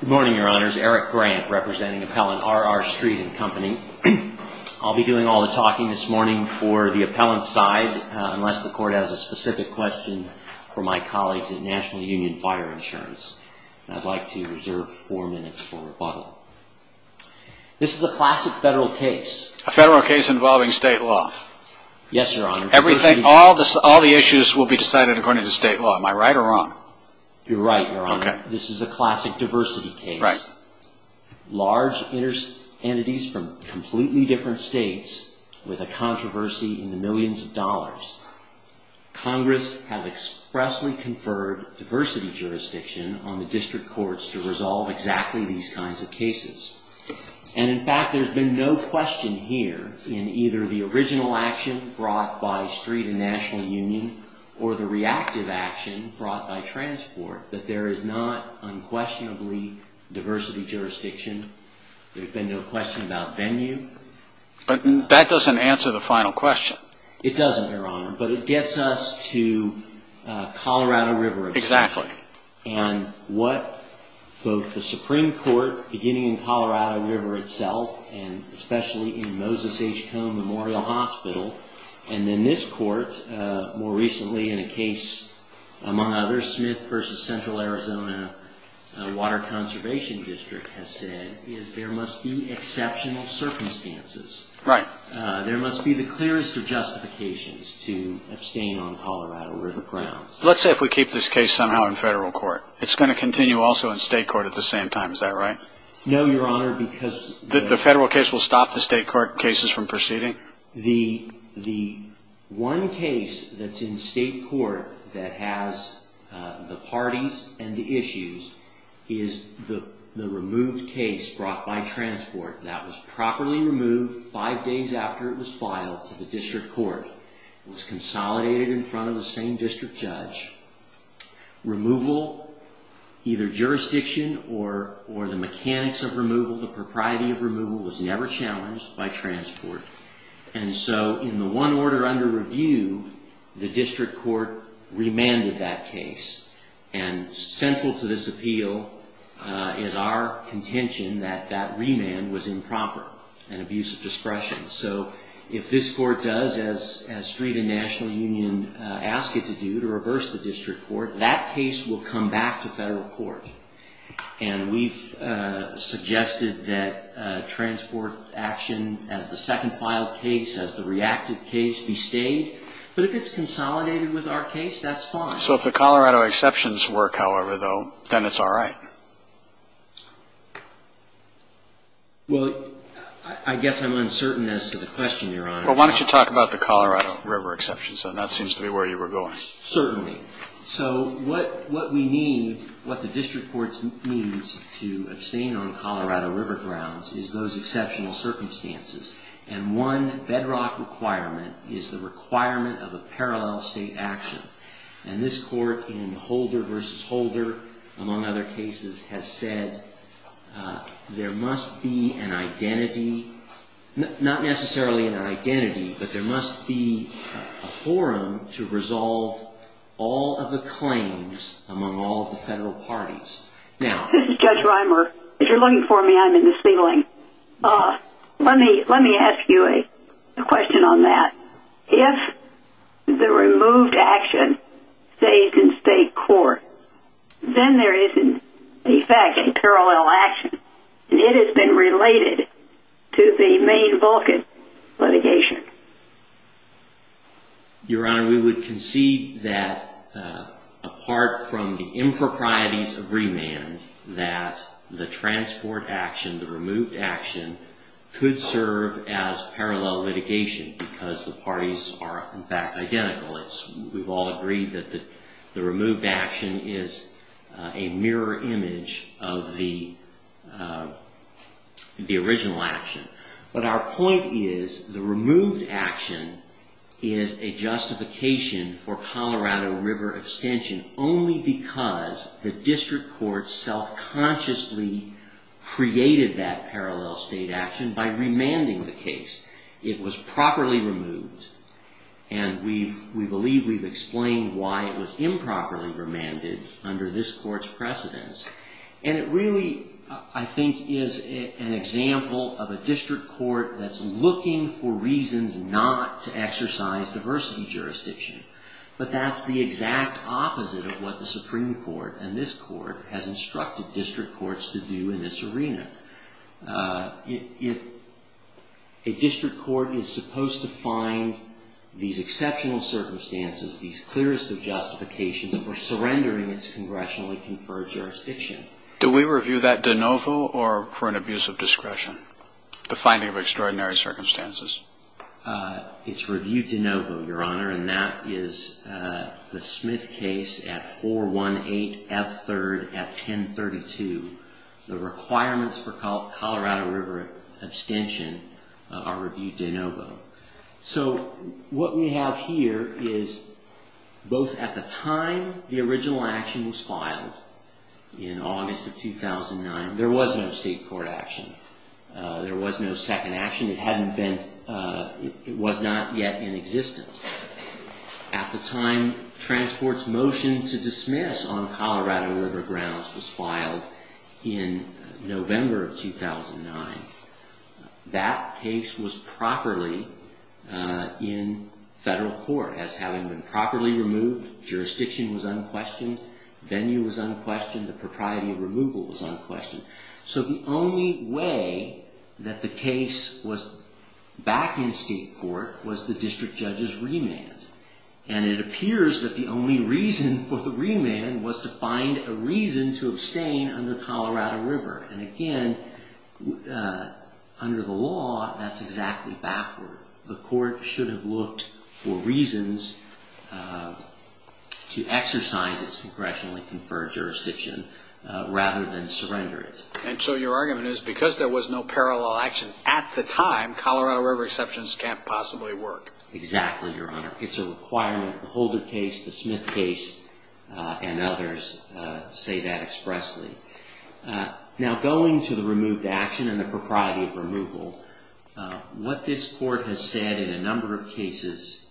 Good morning, Your Honors. Eric Grant, representing Appellant R.R. Street & Co. I'll be doing all the talking this morning for the appellant's side, unless the Court has a specific question for my colleagues at National Union Fire Insurance. I'd like to reserve four minutes for rebuttal. This is a classic federal case. A federal case involving state law. Yes, Your Honor. Everything, all the issues will be decided according to state law. Am I right or wrong? You're right, Your Honor. Okay. This is a classic diversity case. Right. Large entities from completely different states with a controversy in the millions of dollars. Congress has expressly conferred diversity jurisdiction on the district courts to resolve exactly these kinds of cases. And, in fact, there's been no question here in either the original action brought by Street & National Union or the reactive action brought by Transport that there is not unquestionably diversity jurisdiction. There's been no question about venue. But that doesn't answer the final question. It doesn't, Your Honor. But it gets us to Colorado River itself. Exactly. And what both the Supreme Court, beginning in Colorado River itself, and especially in Moses H. Cone Memorial Hospital, and then this court more recently in a case, among others, Smith v. Central Arizona Water Conservation District, has said is there must be exceptional circumstances. Right. There must be the clearest of justifications to abstain on Colorado River grounds. Let's say if we keep this case somehow in federal court. It's going to continue also in state court at the same time. Is that right? No, Your Honor. Because the federal case will stop the state court cases from proceeding? The one case that's in state court that has the parties and the issues is the removed case brought by Transport that was properly removed five days after it was filed to the district court. It was consolidated in front of the same district judge. Removal, either jurisdiction or the mechanics of removal, the propriety of removal was never challenged by Transport. And so in the one order under review, the district court remanded that case. And central to this appeal is our contention that that remand was improper and abuse of discretion. So if this court does, as street and national union ask it to do, to reverse the district court, that case will come back to federal court. And we've suggested that Transport action as the second filed case, as the reactive case, be stayed. But if it's consolidated with our case, that's fine. So if the Colorado exceptions work, however, though, then it's all right. Well, I guess I'm uncertain as to the question, Your Honor. Well, why don't you talk about the Colorado River exceptions, then that seems to be where you were going. Certainly. Certainly. So what we need, what the district court needs to abstain on Colorado River grounds is those exceptional circumstances. And one bedrock requirement is the requirement of a parallel state action. And this court in Holder v. Holder, among other cases, has said there must be an identity, not necessarily an identity, but there must be a forum to resolve all of the claims among all of the federal parties. This is Judge Reimer. If you're looking for me, I'm in the ceiling. Let me ask you a question on that. If the removed action stays in state court, then there is, in effect, a parallel action. And it has been related to the Maine Vulcan litigation. Your Honor, we would concede that, apart from the improprieties of remand, that the transport action, the removed action, could serve as parallel litigation because the parties are, in fact, identical. We've all agreed that the removed action is a mirror image of the original action. But our point is the removed action is a justification for Colorado River abstention only because the district court self-consciously created that parallel state action by remanding the case. It was properly removed. And we believe we've explained why it was improperly remanded under this court's precedence. And it really, I think, is an example of a district court that's looking for reasons not to exercise diversity jurisdiction. But that's the exact opposite of what the Supreme Court and this court A district court is supposed to find these exceptional circumstances, these clearest of justifications for surrendering its congressionally conferred jurisdiction. Do we review that de novo or for an abuse of discretion, the finding of extraordinary circumstances? It's reviewed de novo, Your Honor. And that is the Smith case at 418F3rd at 1032. The requirements for Colorado River abstention are reviewed de novo. So what we have here is both at the time the original action was filed in August of 2009, there was no state court action. There was no second action. It was not yet in existence. At the time, transport's motion to dismiss on Colorado River grounds was filed in November of 2009. That case was properly in federal court as having been properly removed. Jurisdiction was unquestioned. Venue was unquestioned. The propriety of removal was unquestioned. So the only way that the case was back in state court was the district judge's remand. And it appears that the only reason for the remand was to find a reason to abstain under Colorado River. And again, under the law, that's exactly backward. The court should have looked for reasons to exercise its congressionally conferred jurisdiction rather than surrender it. And so your argument is because there was no parallel action at the time, Colorado River exceptions can't possibly work. Exactly, Your Honor. It's a requirement. The Holder case, the Smith case, and others say that expressly. Now, going to the removed action and the propriety of removal, what this court has said in a number of cases,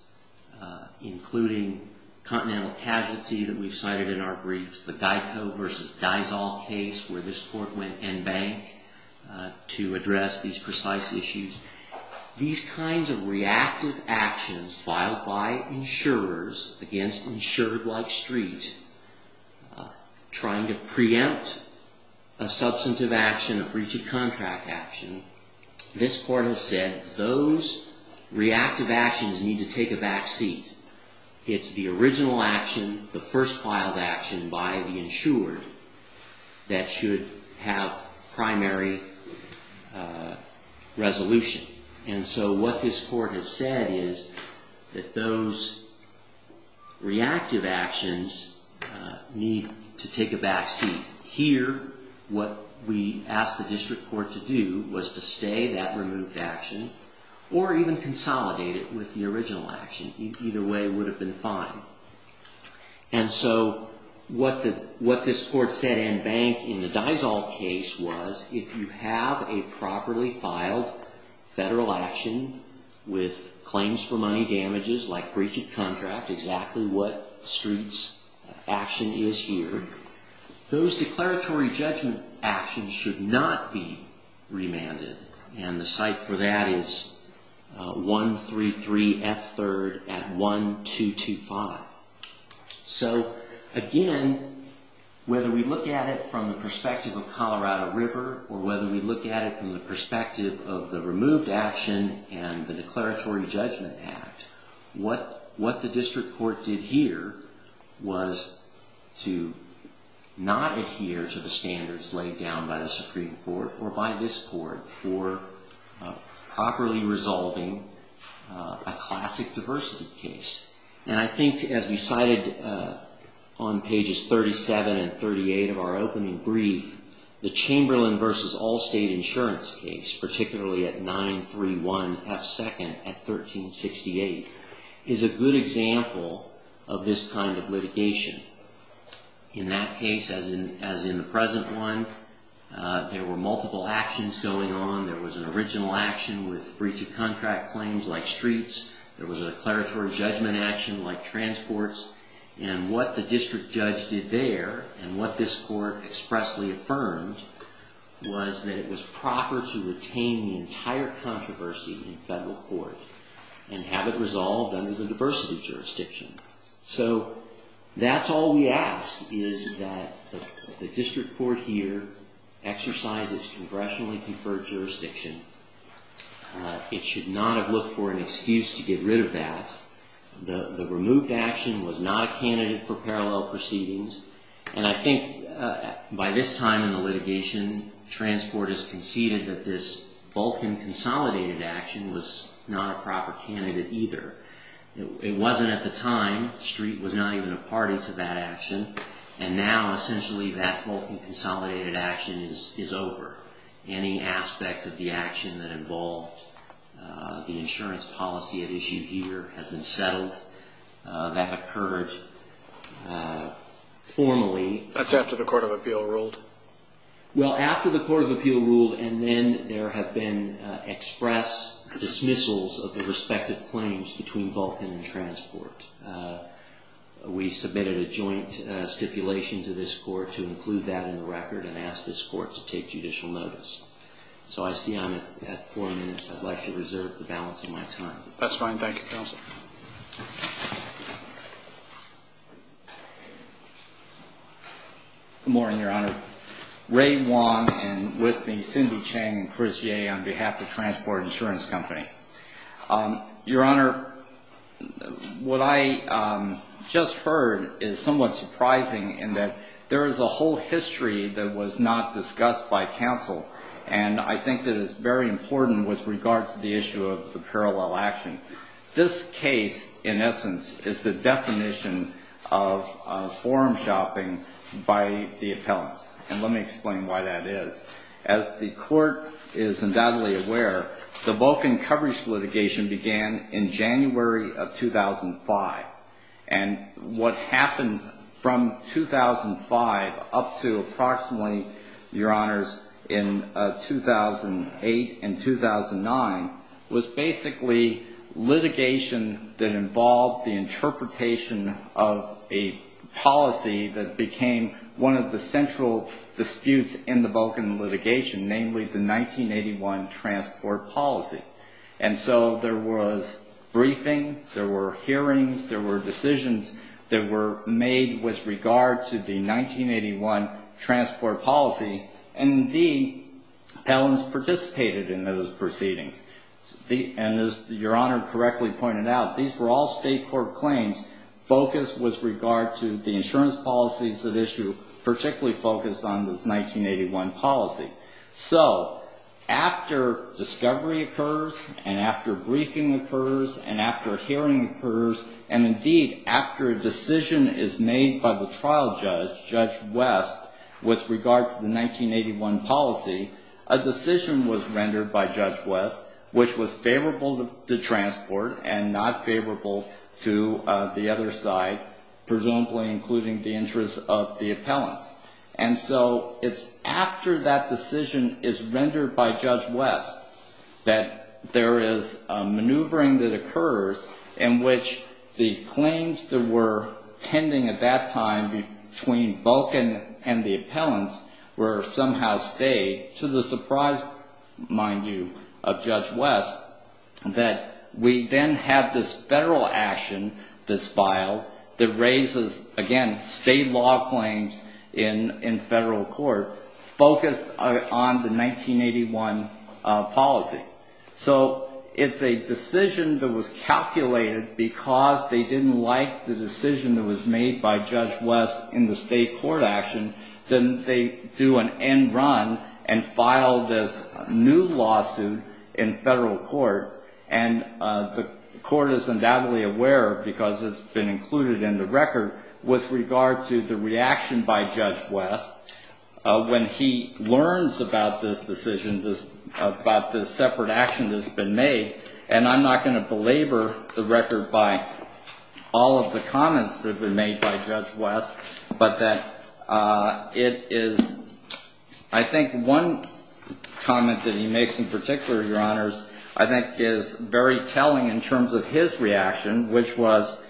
including continental casualty that we've cited in our briefs, the Geico versus Daisal case where this court went en banc to address these precise issues, these kinds of reactive actions filed by insurers against insured-like street, trying to preempt a substantive action, a breach of contract action, this court has said those reactive actions need to take a back seat. It's the original action, the first filed action by the insured, that should have primary resolution. And so what this court has said is that those reactive actions need to take a back seat. Here, what we asked the district court to do was to stay that removed action or even consolidate it with the original action. Either way would have been fine. And so what this court said en banc in the Daisal case was, if you have a properly filed federal action with claims for money damages, like breach of contract, exactly what street's action is here, those declaratory judgment actions should not be remanded. And the site for that is 133F3rd at 1225. So again, whether we look at it from the perspective of Colorado River or whether we look at it from the perspective of the removed action and the Declaratory Judgment Act, what the district court did here was to not adhere to the standards laid down by the Supreme Court or by this court for properly resolving a classic diversity case. And I think as we cited on pages 37 and 38 of our opening brief, the Chamberlain v. Allstate insurance case, particularly at 931F2nd at 1368, is a good example of this kind of litigation. In that case, as in the present one, there were multiple actions going on. There was an original action with breach of contract claims like streets. There was a declaratory judgment action like transports. And what the district judge did there and what this court expressly affirmed was that it was proper to retain the entire controversy in federal court and have it resolved under the diversity jurisdiction. So that's all we ask is that the district court here exercises congressionally conferred jurisdiction. It should not have looked for an excuse to get rid of that. The removed action was not a candidate for parallel proceedings. And I think by this time in the litigation, Transport has conceded that this Vulcan consolidated action was not a proper candidate either. It wasn't at the time. Street was not even a party to that action. And now essentially that Vulcan consolidated action is over. Any aspect of the action that involved the insurance policy at issue here has been settled. That occurred formally. That's after the Court of Appeal ruled? Well, after the Court of Appeal ruled and then there have been express dismissals of the respective claims between Vulcan and Transport. We submitted a joint stipulation to this court to include that in the record and ask this court to take judicial notice. So I see I'm at four minutes. I'd like to reserve the balance of my time. That's fine. Thank you, Counsel. Good morning, Your Honor. Ray Wong and with me Cindy Chang and Chris Yeh on behalf of Transport Insurance Company. Your Honor, what I just heard is somewhat surprising in that there is a whole history that was not discussed by counsel. And I think that is very important with regard to the issue of the parallel action. This case in essence is the definition of forum shopping by the appellants. And let me explain why that is. As the court is undoubtedly aware, the Vulcan coverage litigation began in January of 2005. And what happened from 2005 up to approximately, Your Honors, in 2008 and 2009 was basically litigation that involved the interpretation of a policy that became one of the central disputes in the Vulcan litigation, namely the 1981 transport policy. And so there was briefings, there were hearings, there were decisions that were made with regard to the 1981 transport policy. And indeed, appellants participated in those proceedings. And as Your Honor correctly pointed out, these were all state court claims focused with regard to the insurance policies at issue, particularly focused on this 1981 policy. So after discovery occurs and after briefing occurs and after a hearing occurs and indeed after a decision is made by the trial judge, Judge West, with regard to the 1981 policy, a decision was rendered by Judge West which was favorable to transport and not favorable to the other side, presumably including the interests of the appellants. And so it's after that decision is rendered by Judge West that there is a maneuvering that occurs in which the claims that were pending at that time between Vulcan and the appellants were somehow stayed to the surprise, mind you, of Judge West that we then have this federal action, this file, that raises, again, state law claims in federal court focused on the 1981 policy. So it's a decision that was calculated because they didn't like the decision that was made by Judge West in the state court action, then they do an end run and file this new lawsuit in federal court. And the court is undoubtedly aware, because it's been included in the record, with regard to the reaction by Judge West when he learns about this decision, about this separate action that's been made. And I'm not going to belabor the record by all of the comments that have been made by Judge West, but that it is I think one comment that he makes in particular, Your Honors, I think is very telling in terms of his reaction, which was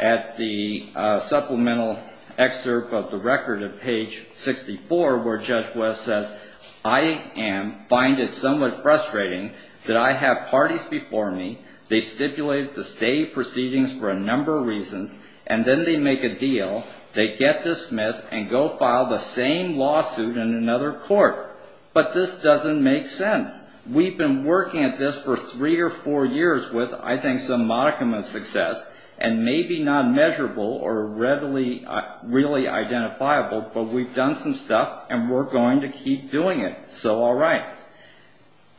at the supplemental excerpt of the record of page 64 where Judge West says, I am, find it somewhat frustrating that I have parties before me, they stipulate the state proceedings for a number of reasons, and then they make a deal, they get dismissed and go file the same lawsuit in another court. But this doesn't make sense. We've been working at this for three or four years with I think some modicum of success, and maybe not measurable or readily really identifiable, but we've done some stuff, and we're going to keep doing it. So all right.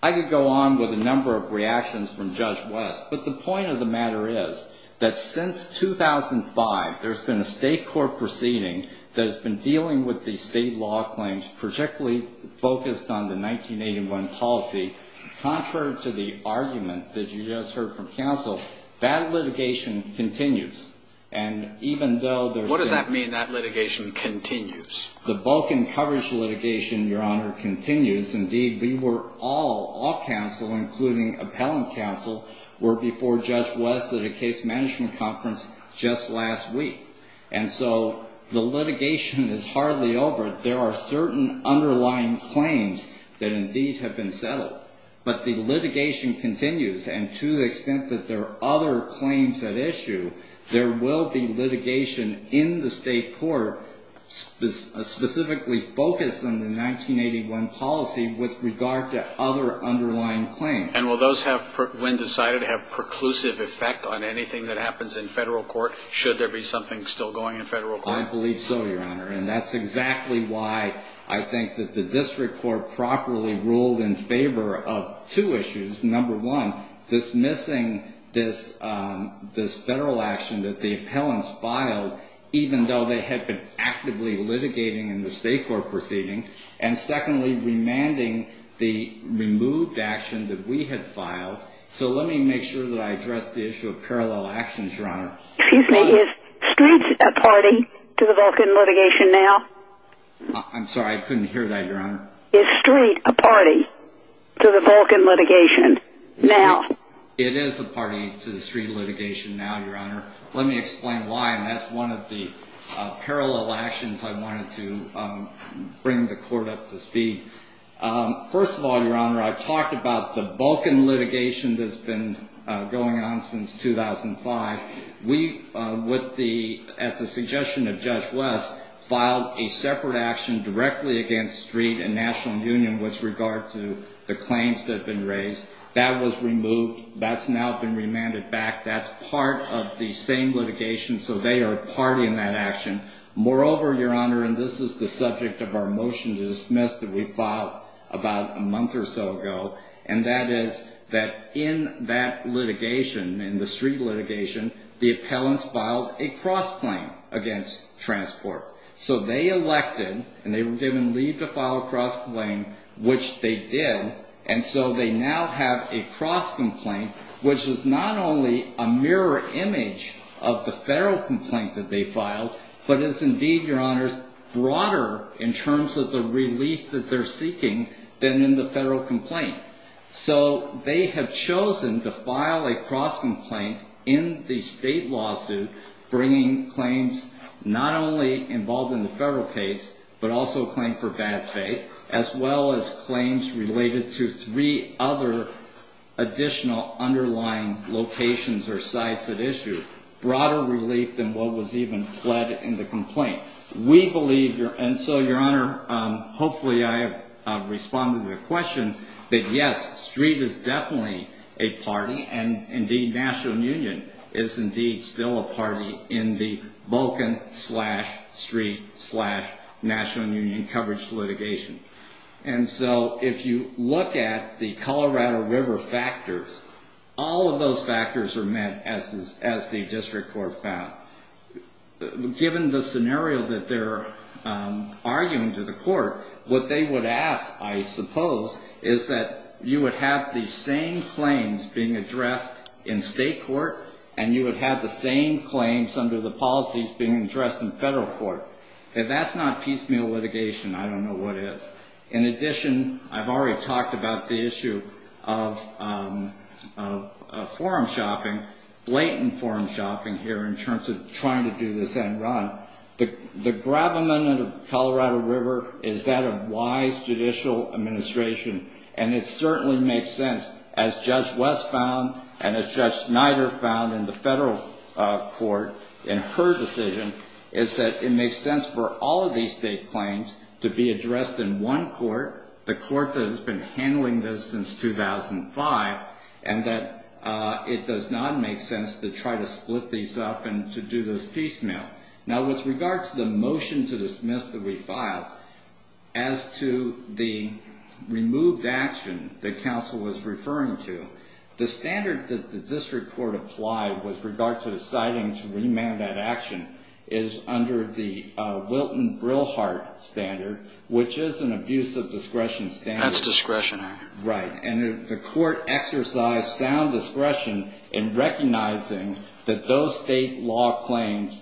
I could go on with a number of reactions from Judge West, but the point of the matter is that since 2005, there's been a state court proceeding that has been dealing with these state law claims, particularly focused on the 1981 policy. Contrary to the argument that you just heard from counsel, that litigation continues. And even though there's been... What does that mean, that litigation continues? The bulk and coverage litigation, Your Honor, continues. Indeed, we were all, all counsel, including appellant counsel, were before Judge West at a case management conference just last week. And so the litigation is hardly over. There are certain underlying claims that indeed have been settled. But the litigation continues. And to the extent that there are other claims at issue, there will be litigation in the state court specifically focused on the 1981 policy with regard to other underlying claims. And will those have, when decided, have preclusive effect on anything that happens in federal court, should there be something still going in federal court? I believe so, Your Honor. And that's exactly why I think that the district court properly ruled in favor of two issues. Number one, dismissing this federal action that the appellants filed, even though they had been actively litigating in the state court proceeding. And secondly, remanding the removed action that we had filed. So let me make sure that I address the issue of parallel actions, Your Honor. Excuse me, is street a party to the Vulcan litigation now? I'm sorry, I couldn't hear that, Your Honor. Is street a party to the Vulcan litigation now? It is a party to the street litigation now, Your Honor. Let me explain why, and that's one of the parallel actions I wanted to bring the court up to speed. First of all, Your Honor, I've talked about the Vulcan litigation that's been going on since 2005. We, as a suggestion of Judge West, filed a separate action directly against street and National Union with regard to the claims that have been raised. That was removed. That's now been remanded back. That's part of the same litigation, so they are a party in that action. Moreover, Your Honor, and this is the subject of our motion to dismiss that we filed about a month or so ago, and that is that in that litigation, in the street litigation, the appellants filed a cross-claim against transport. So they elected, and they were given leave to file a cross-claim, which they did, and so they now have a cross-complaint, which is not only a mirror image of the federal complaint that they filed, but is indeed, Your Honors, broader in terms of the relief that they're seeking than in the federal complaint. So they have chosen to file a cross-complaint in the state lawsuit, bringing claims not only involved in the federal case, but also a claim for bad faith, as well as claims related to three other additional underlying locations or sites at issue. Broader relief than what was even pled in the complaint. We believe, and so Your Honor, hopefully I have responded to your question, that yes, Street is definitely a party, and indeed National Union is indeed still a party, in the Vulcan-slash-Street-slash-National Union coverage litigation. And so if you look at the Colorado River factors, all of those factors are met, as the district court found. Given the scenario that they're arguing to the court, what they would ask, I suppose, is that you would have the same claims being addressed in state court, and you would have the same claims under the policies being addressed in federal court. If that's not piecemeal litigation, I don't know what is. In addition, I've already talked about the issue of forum shopping, blatant forum shopping here, in terms of trying to do this end run. The gravamen of the Colorado River is that of wise judicial administration, and it certainly makes sense, as Judge West found, and as Judge Snyder found in the federal court, in her decision, is that it makes sense for all of these state claims to be addressed in one court, the court that has been handling this since 2005, and that it does not make sense to try to split these up and to do this piecemeal. Now, with regard to the motion to dismiss that we filed, as to the removed action that counsel was referring to, the standard that the district court applied with regard to deciding to remand that action is under the Wilton-Brilhart standard, which is an abuse of discretion standard. That's discretionary. Right. And the court exercised sound discretion in recognizing that those state law claims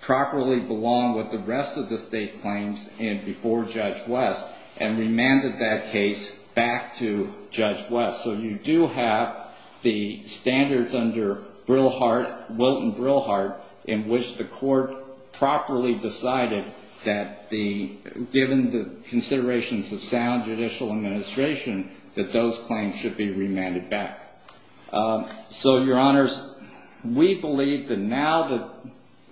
properly belong with the rest of the state claims before Judge West, and remanded that case back to Judge West. So you do have the standards under Brilhart, Wilton-Brilhart, in which the court properly decided that given the considerations of sound judicial administration, that those claims should be remanded back. So, Your Honors, we believe that now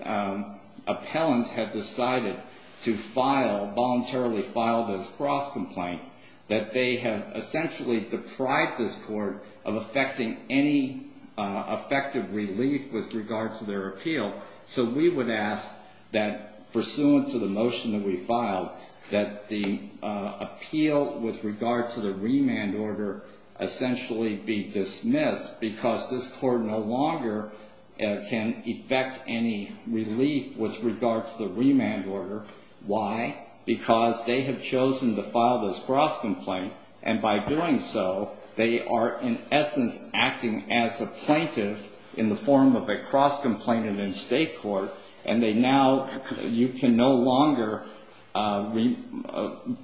that appellants have decided to file, voluntarily filed this cross-complaint, that they have essentially deprived this court of affecting any effective relief with regard to their appeal. So we would ask that, pursuant to the motion that we filed, that the appeal with regard to the remand order essentially be dismissed, because this court no longer can effect any relief with regard to the remand order. Why? Because they have chosen to file this cross-complaint, and by doing so, they are in essence acting as a plaintiff in the form of a cross-complaint in a state court, and they now, you can no longer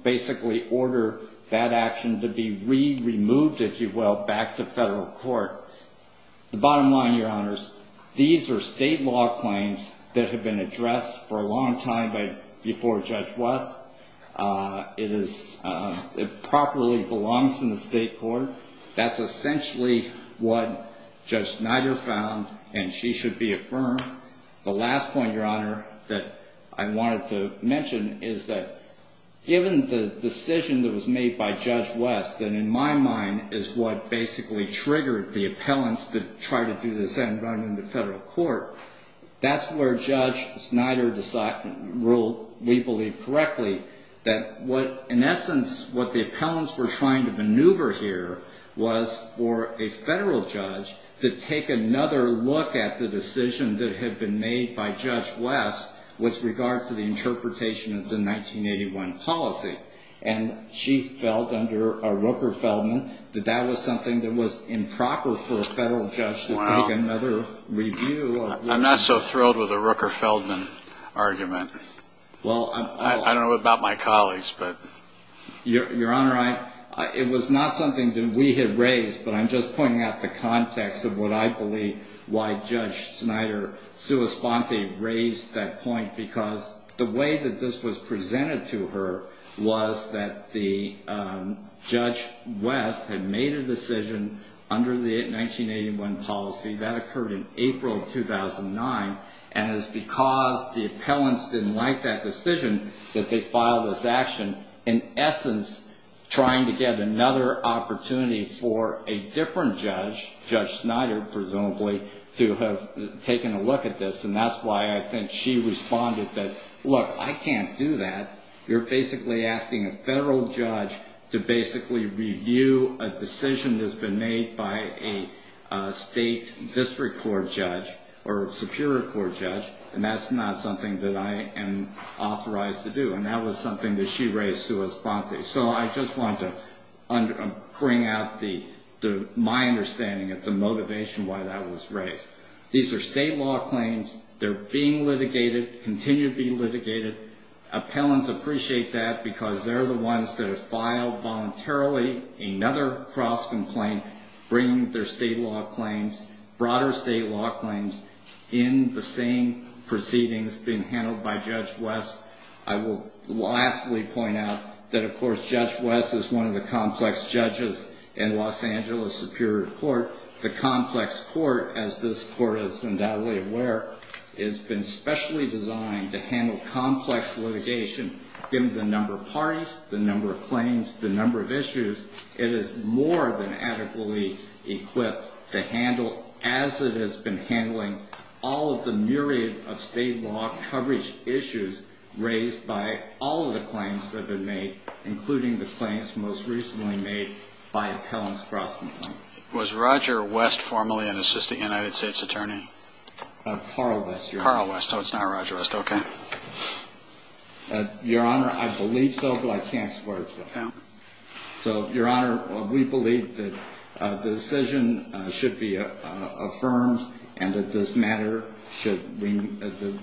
basically order that action to be re-removed, if you will, The bottom line, Your Honors, these are state law claims that have been addressed for a long time before Judge West. It properly belongs in the state court. That's essentially what Judge Snyder found, and she should be affirmed. The last point, Your Honor, that I wanted to mention is that, given the decision that was made by Judge West, that in my mind is what basically triggered the appellants to try to do this and run into federal court, that's where Judge Snyder ruled, we believe correctly, that what, in essence, what the appellants were trying to maneuver here was for a federal judge to take another look at the decision that had been made by Judge West with regard to the interpretation of the 1981 policy, and she felt, under a Rooker-Feldman, that that was something that was improper for a federal judge to take another review. I'm not so thrilled with the Rooker-Feldman argument. I don't know about my colleagues, but... Your Honor, it was not something that we had raised, but I'm just pointing out the context of what I believe why Judge Snyder raised that point, because the way that this was presented to her was that Judge West had made a decision under the 1981 policy, that occurred in April of 2009, and it's because the appellants didn't like that decision that they filed this action, in essence, trying to get another opportunity for a different judge, Judge Snyder, presumably, to have taken a look at this, and that's why I think she responded that, look, I can't do that. You're basically asking a federal judge to basically review a decision that's been made by a state district court judge or a superior court judge, and that's not something that I am authorized to do, and that was something that she raised, so I just wanted to bring out my understanding of the motivation why that was raised. These are state law claims. They're being litigated, continue to be litigated. Appellants appreciate that because they're the ones that have filed voluntarily another cross-complaint, bringing their state law claims, broader state law claims, in the same proceedings being handled by Judge West. I will lastly point out that, of course, Judge West is one of the complex judges in Los Angeles Superior Court. The complex court, as this court is undoubtedly aware, has been specially designed to handle complex litigation. Given the number of parties, the number of claims, the number of issues, it is more than adequately equipped to handle, as it has been handling all of the myriad of state law coverage issues raised by all of the claims that have been made, including the claims most recently made by appellants cross-complaint. Was Roger West formerly an assistant United States attorney? Carl West, Your Honor. Carl West. Oh, it's not Roger West. Okay. Your Honor, I believe so, but I can't support it. No. So, Your Honor, we believe that the decision should be affirmed and that the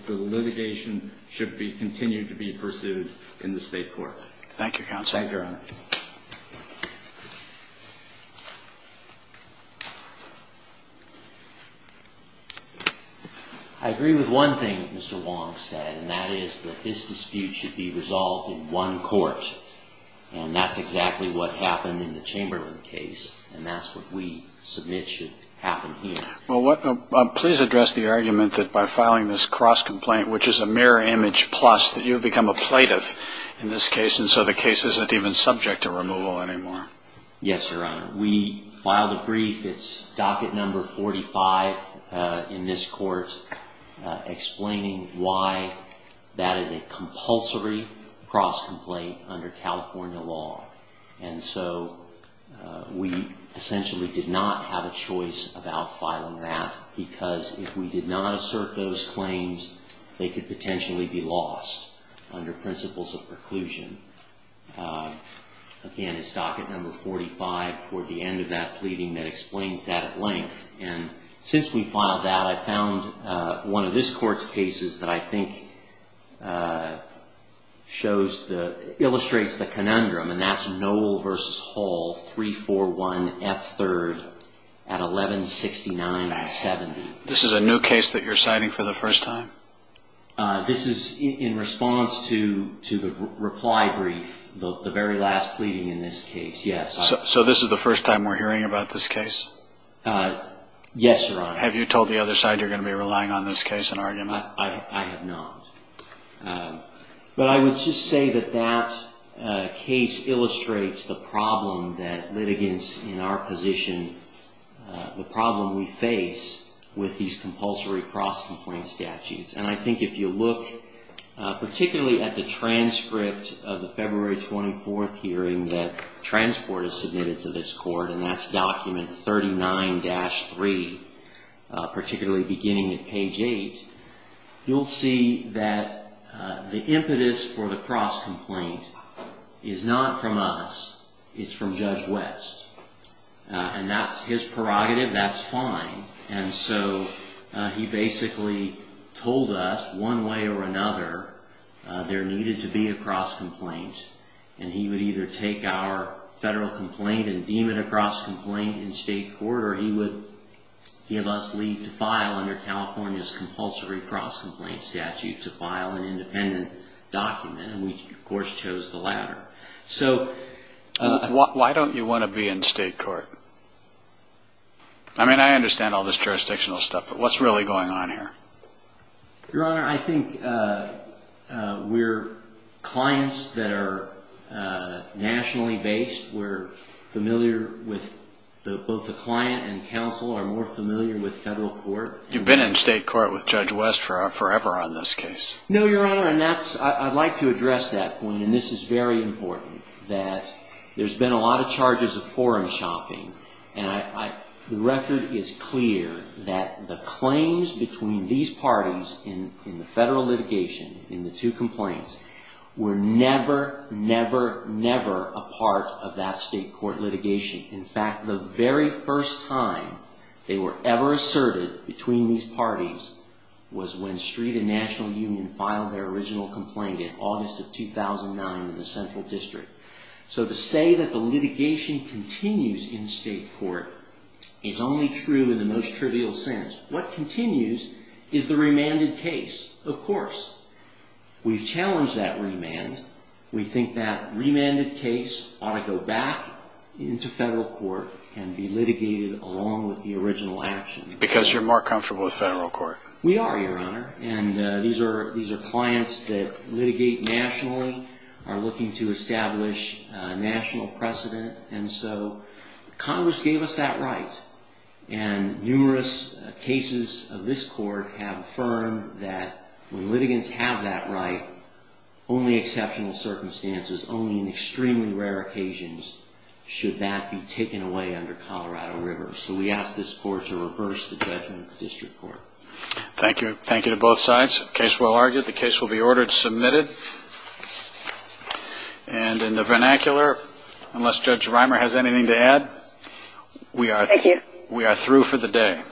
litigation should continue to be pursued in the state court. Thank you, Counsel. Thank you, Your Honor. I agree with one thing that Mr. Wong said, and that is that this dispute should be resolved in one court, and that's exactly what happened in the Chamberlain case, and that's what we submit should happen here. Well, please address the argument that by filing this cross-complaint, which is a mirror image plus, that you have become a plaintiff in this case, and so the case isn't even subject to removal anymore. Yes, Your Honor. We filed a brief. It's docket number 45 in this court, explaining why that is a compulsory cross-complaint under California law, and so we essentially did not have a choice about filing that because if we did not assert those claims, they could potentially be lost under principles of preclusion. Again, it's docket number 45 for the end of that pleading that explains that at length, and since we filed that, I found one of this court's cases that I think illustrates the conundrum, and that's Noel v. Hall, 341F3rd at 1169.70. This is a new case that you're citing for the first time? This is in response to the reply brief, the very last pleading in this case, yes. So this is the first time we're hearing about this case? Yes, Your Honor. Have you told the other side you're going to be relying on this case in argument? I have not. But I would just say that that case illustrates the problem that litigants in our position, the problem we face with these compulsory cross-complaint statutes, and I think if you look particularly at the transcript of the February 24th hearing that Transport has submitted to this court, and that's document 39-3, particularly beginning at page 8, you'll see that the impetus for the cross-complaint is not from us. It's from Judge West, and that's his prerogative. That's fine. And so he basically told us one way or another there needed to be a cross-complaint, and he would either take our federal complaint and deem it a cross-complaint in state court, or he would give us leave to file under California's compulsory cross-complaint statute to file an independent document, and we, of course, chose the latter. Why don't you want to be in state court? I mean, I understand all this jurisdictional stuff, but what's really going on here? Your Honor, I think we're clients that are nationally based. We're familiar with both the client and counsel are more familiar with federal court. You've been in state court with Judge West forever on this case. No, Your Honor, and I'd like to address that point, and this is very important, that there's been a lot of charges of foreign shopping, and the record is clear that the claims between these parties in the federal litigation, in the two complaints, were never, never, never a part of that state court litigation. In fact, the very first time they were ever asserted between these parties was when Street and National Union filed their original complaint in August of 2009 in the Central District. So to say that the litigation continues in state court is only true in the most trivial sense. What continues is the remanded case, of course. We've challenged that remand. We think that remanded case ought to go back into federal court and be litigated along with the original action. Because you're more comfortable with federal court. We are, Your Honor, and these are clients that litigate nationally, are looking to establish national precedent, and so Congress gave us that right, and numerous cases of this court have affirmed that when litigants have that right, only exceptional circumstances, only in extremely rare occasions, should that be taken away under Colorado River. So we ask this court to reverse the judgment of the district court. Thank you. Thank you to both sides. Case well argued. The case will be ordered and submitted. And in the vernacular, unless Judge Reimer has anything to add, we are through for the day. Thank you.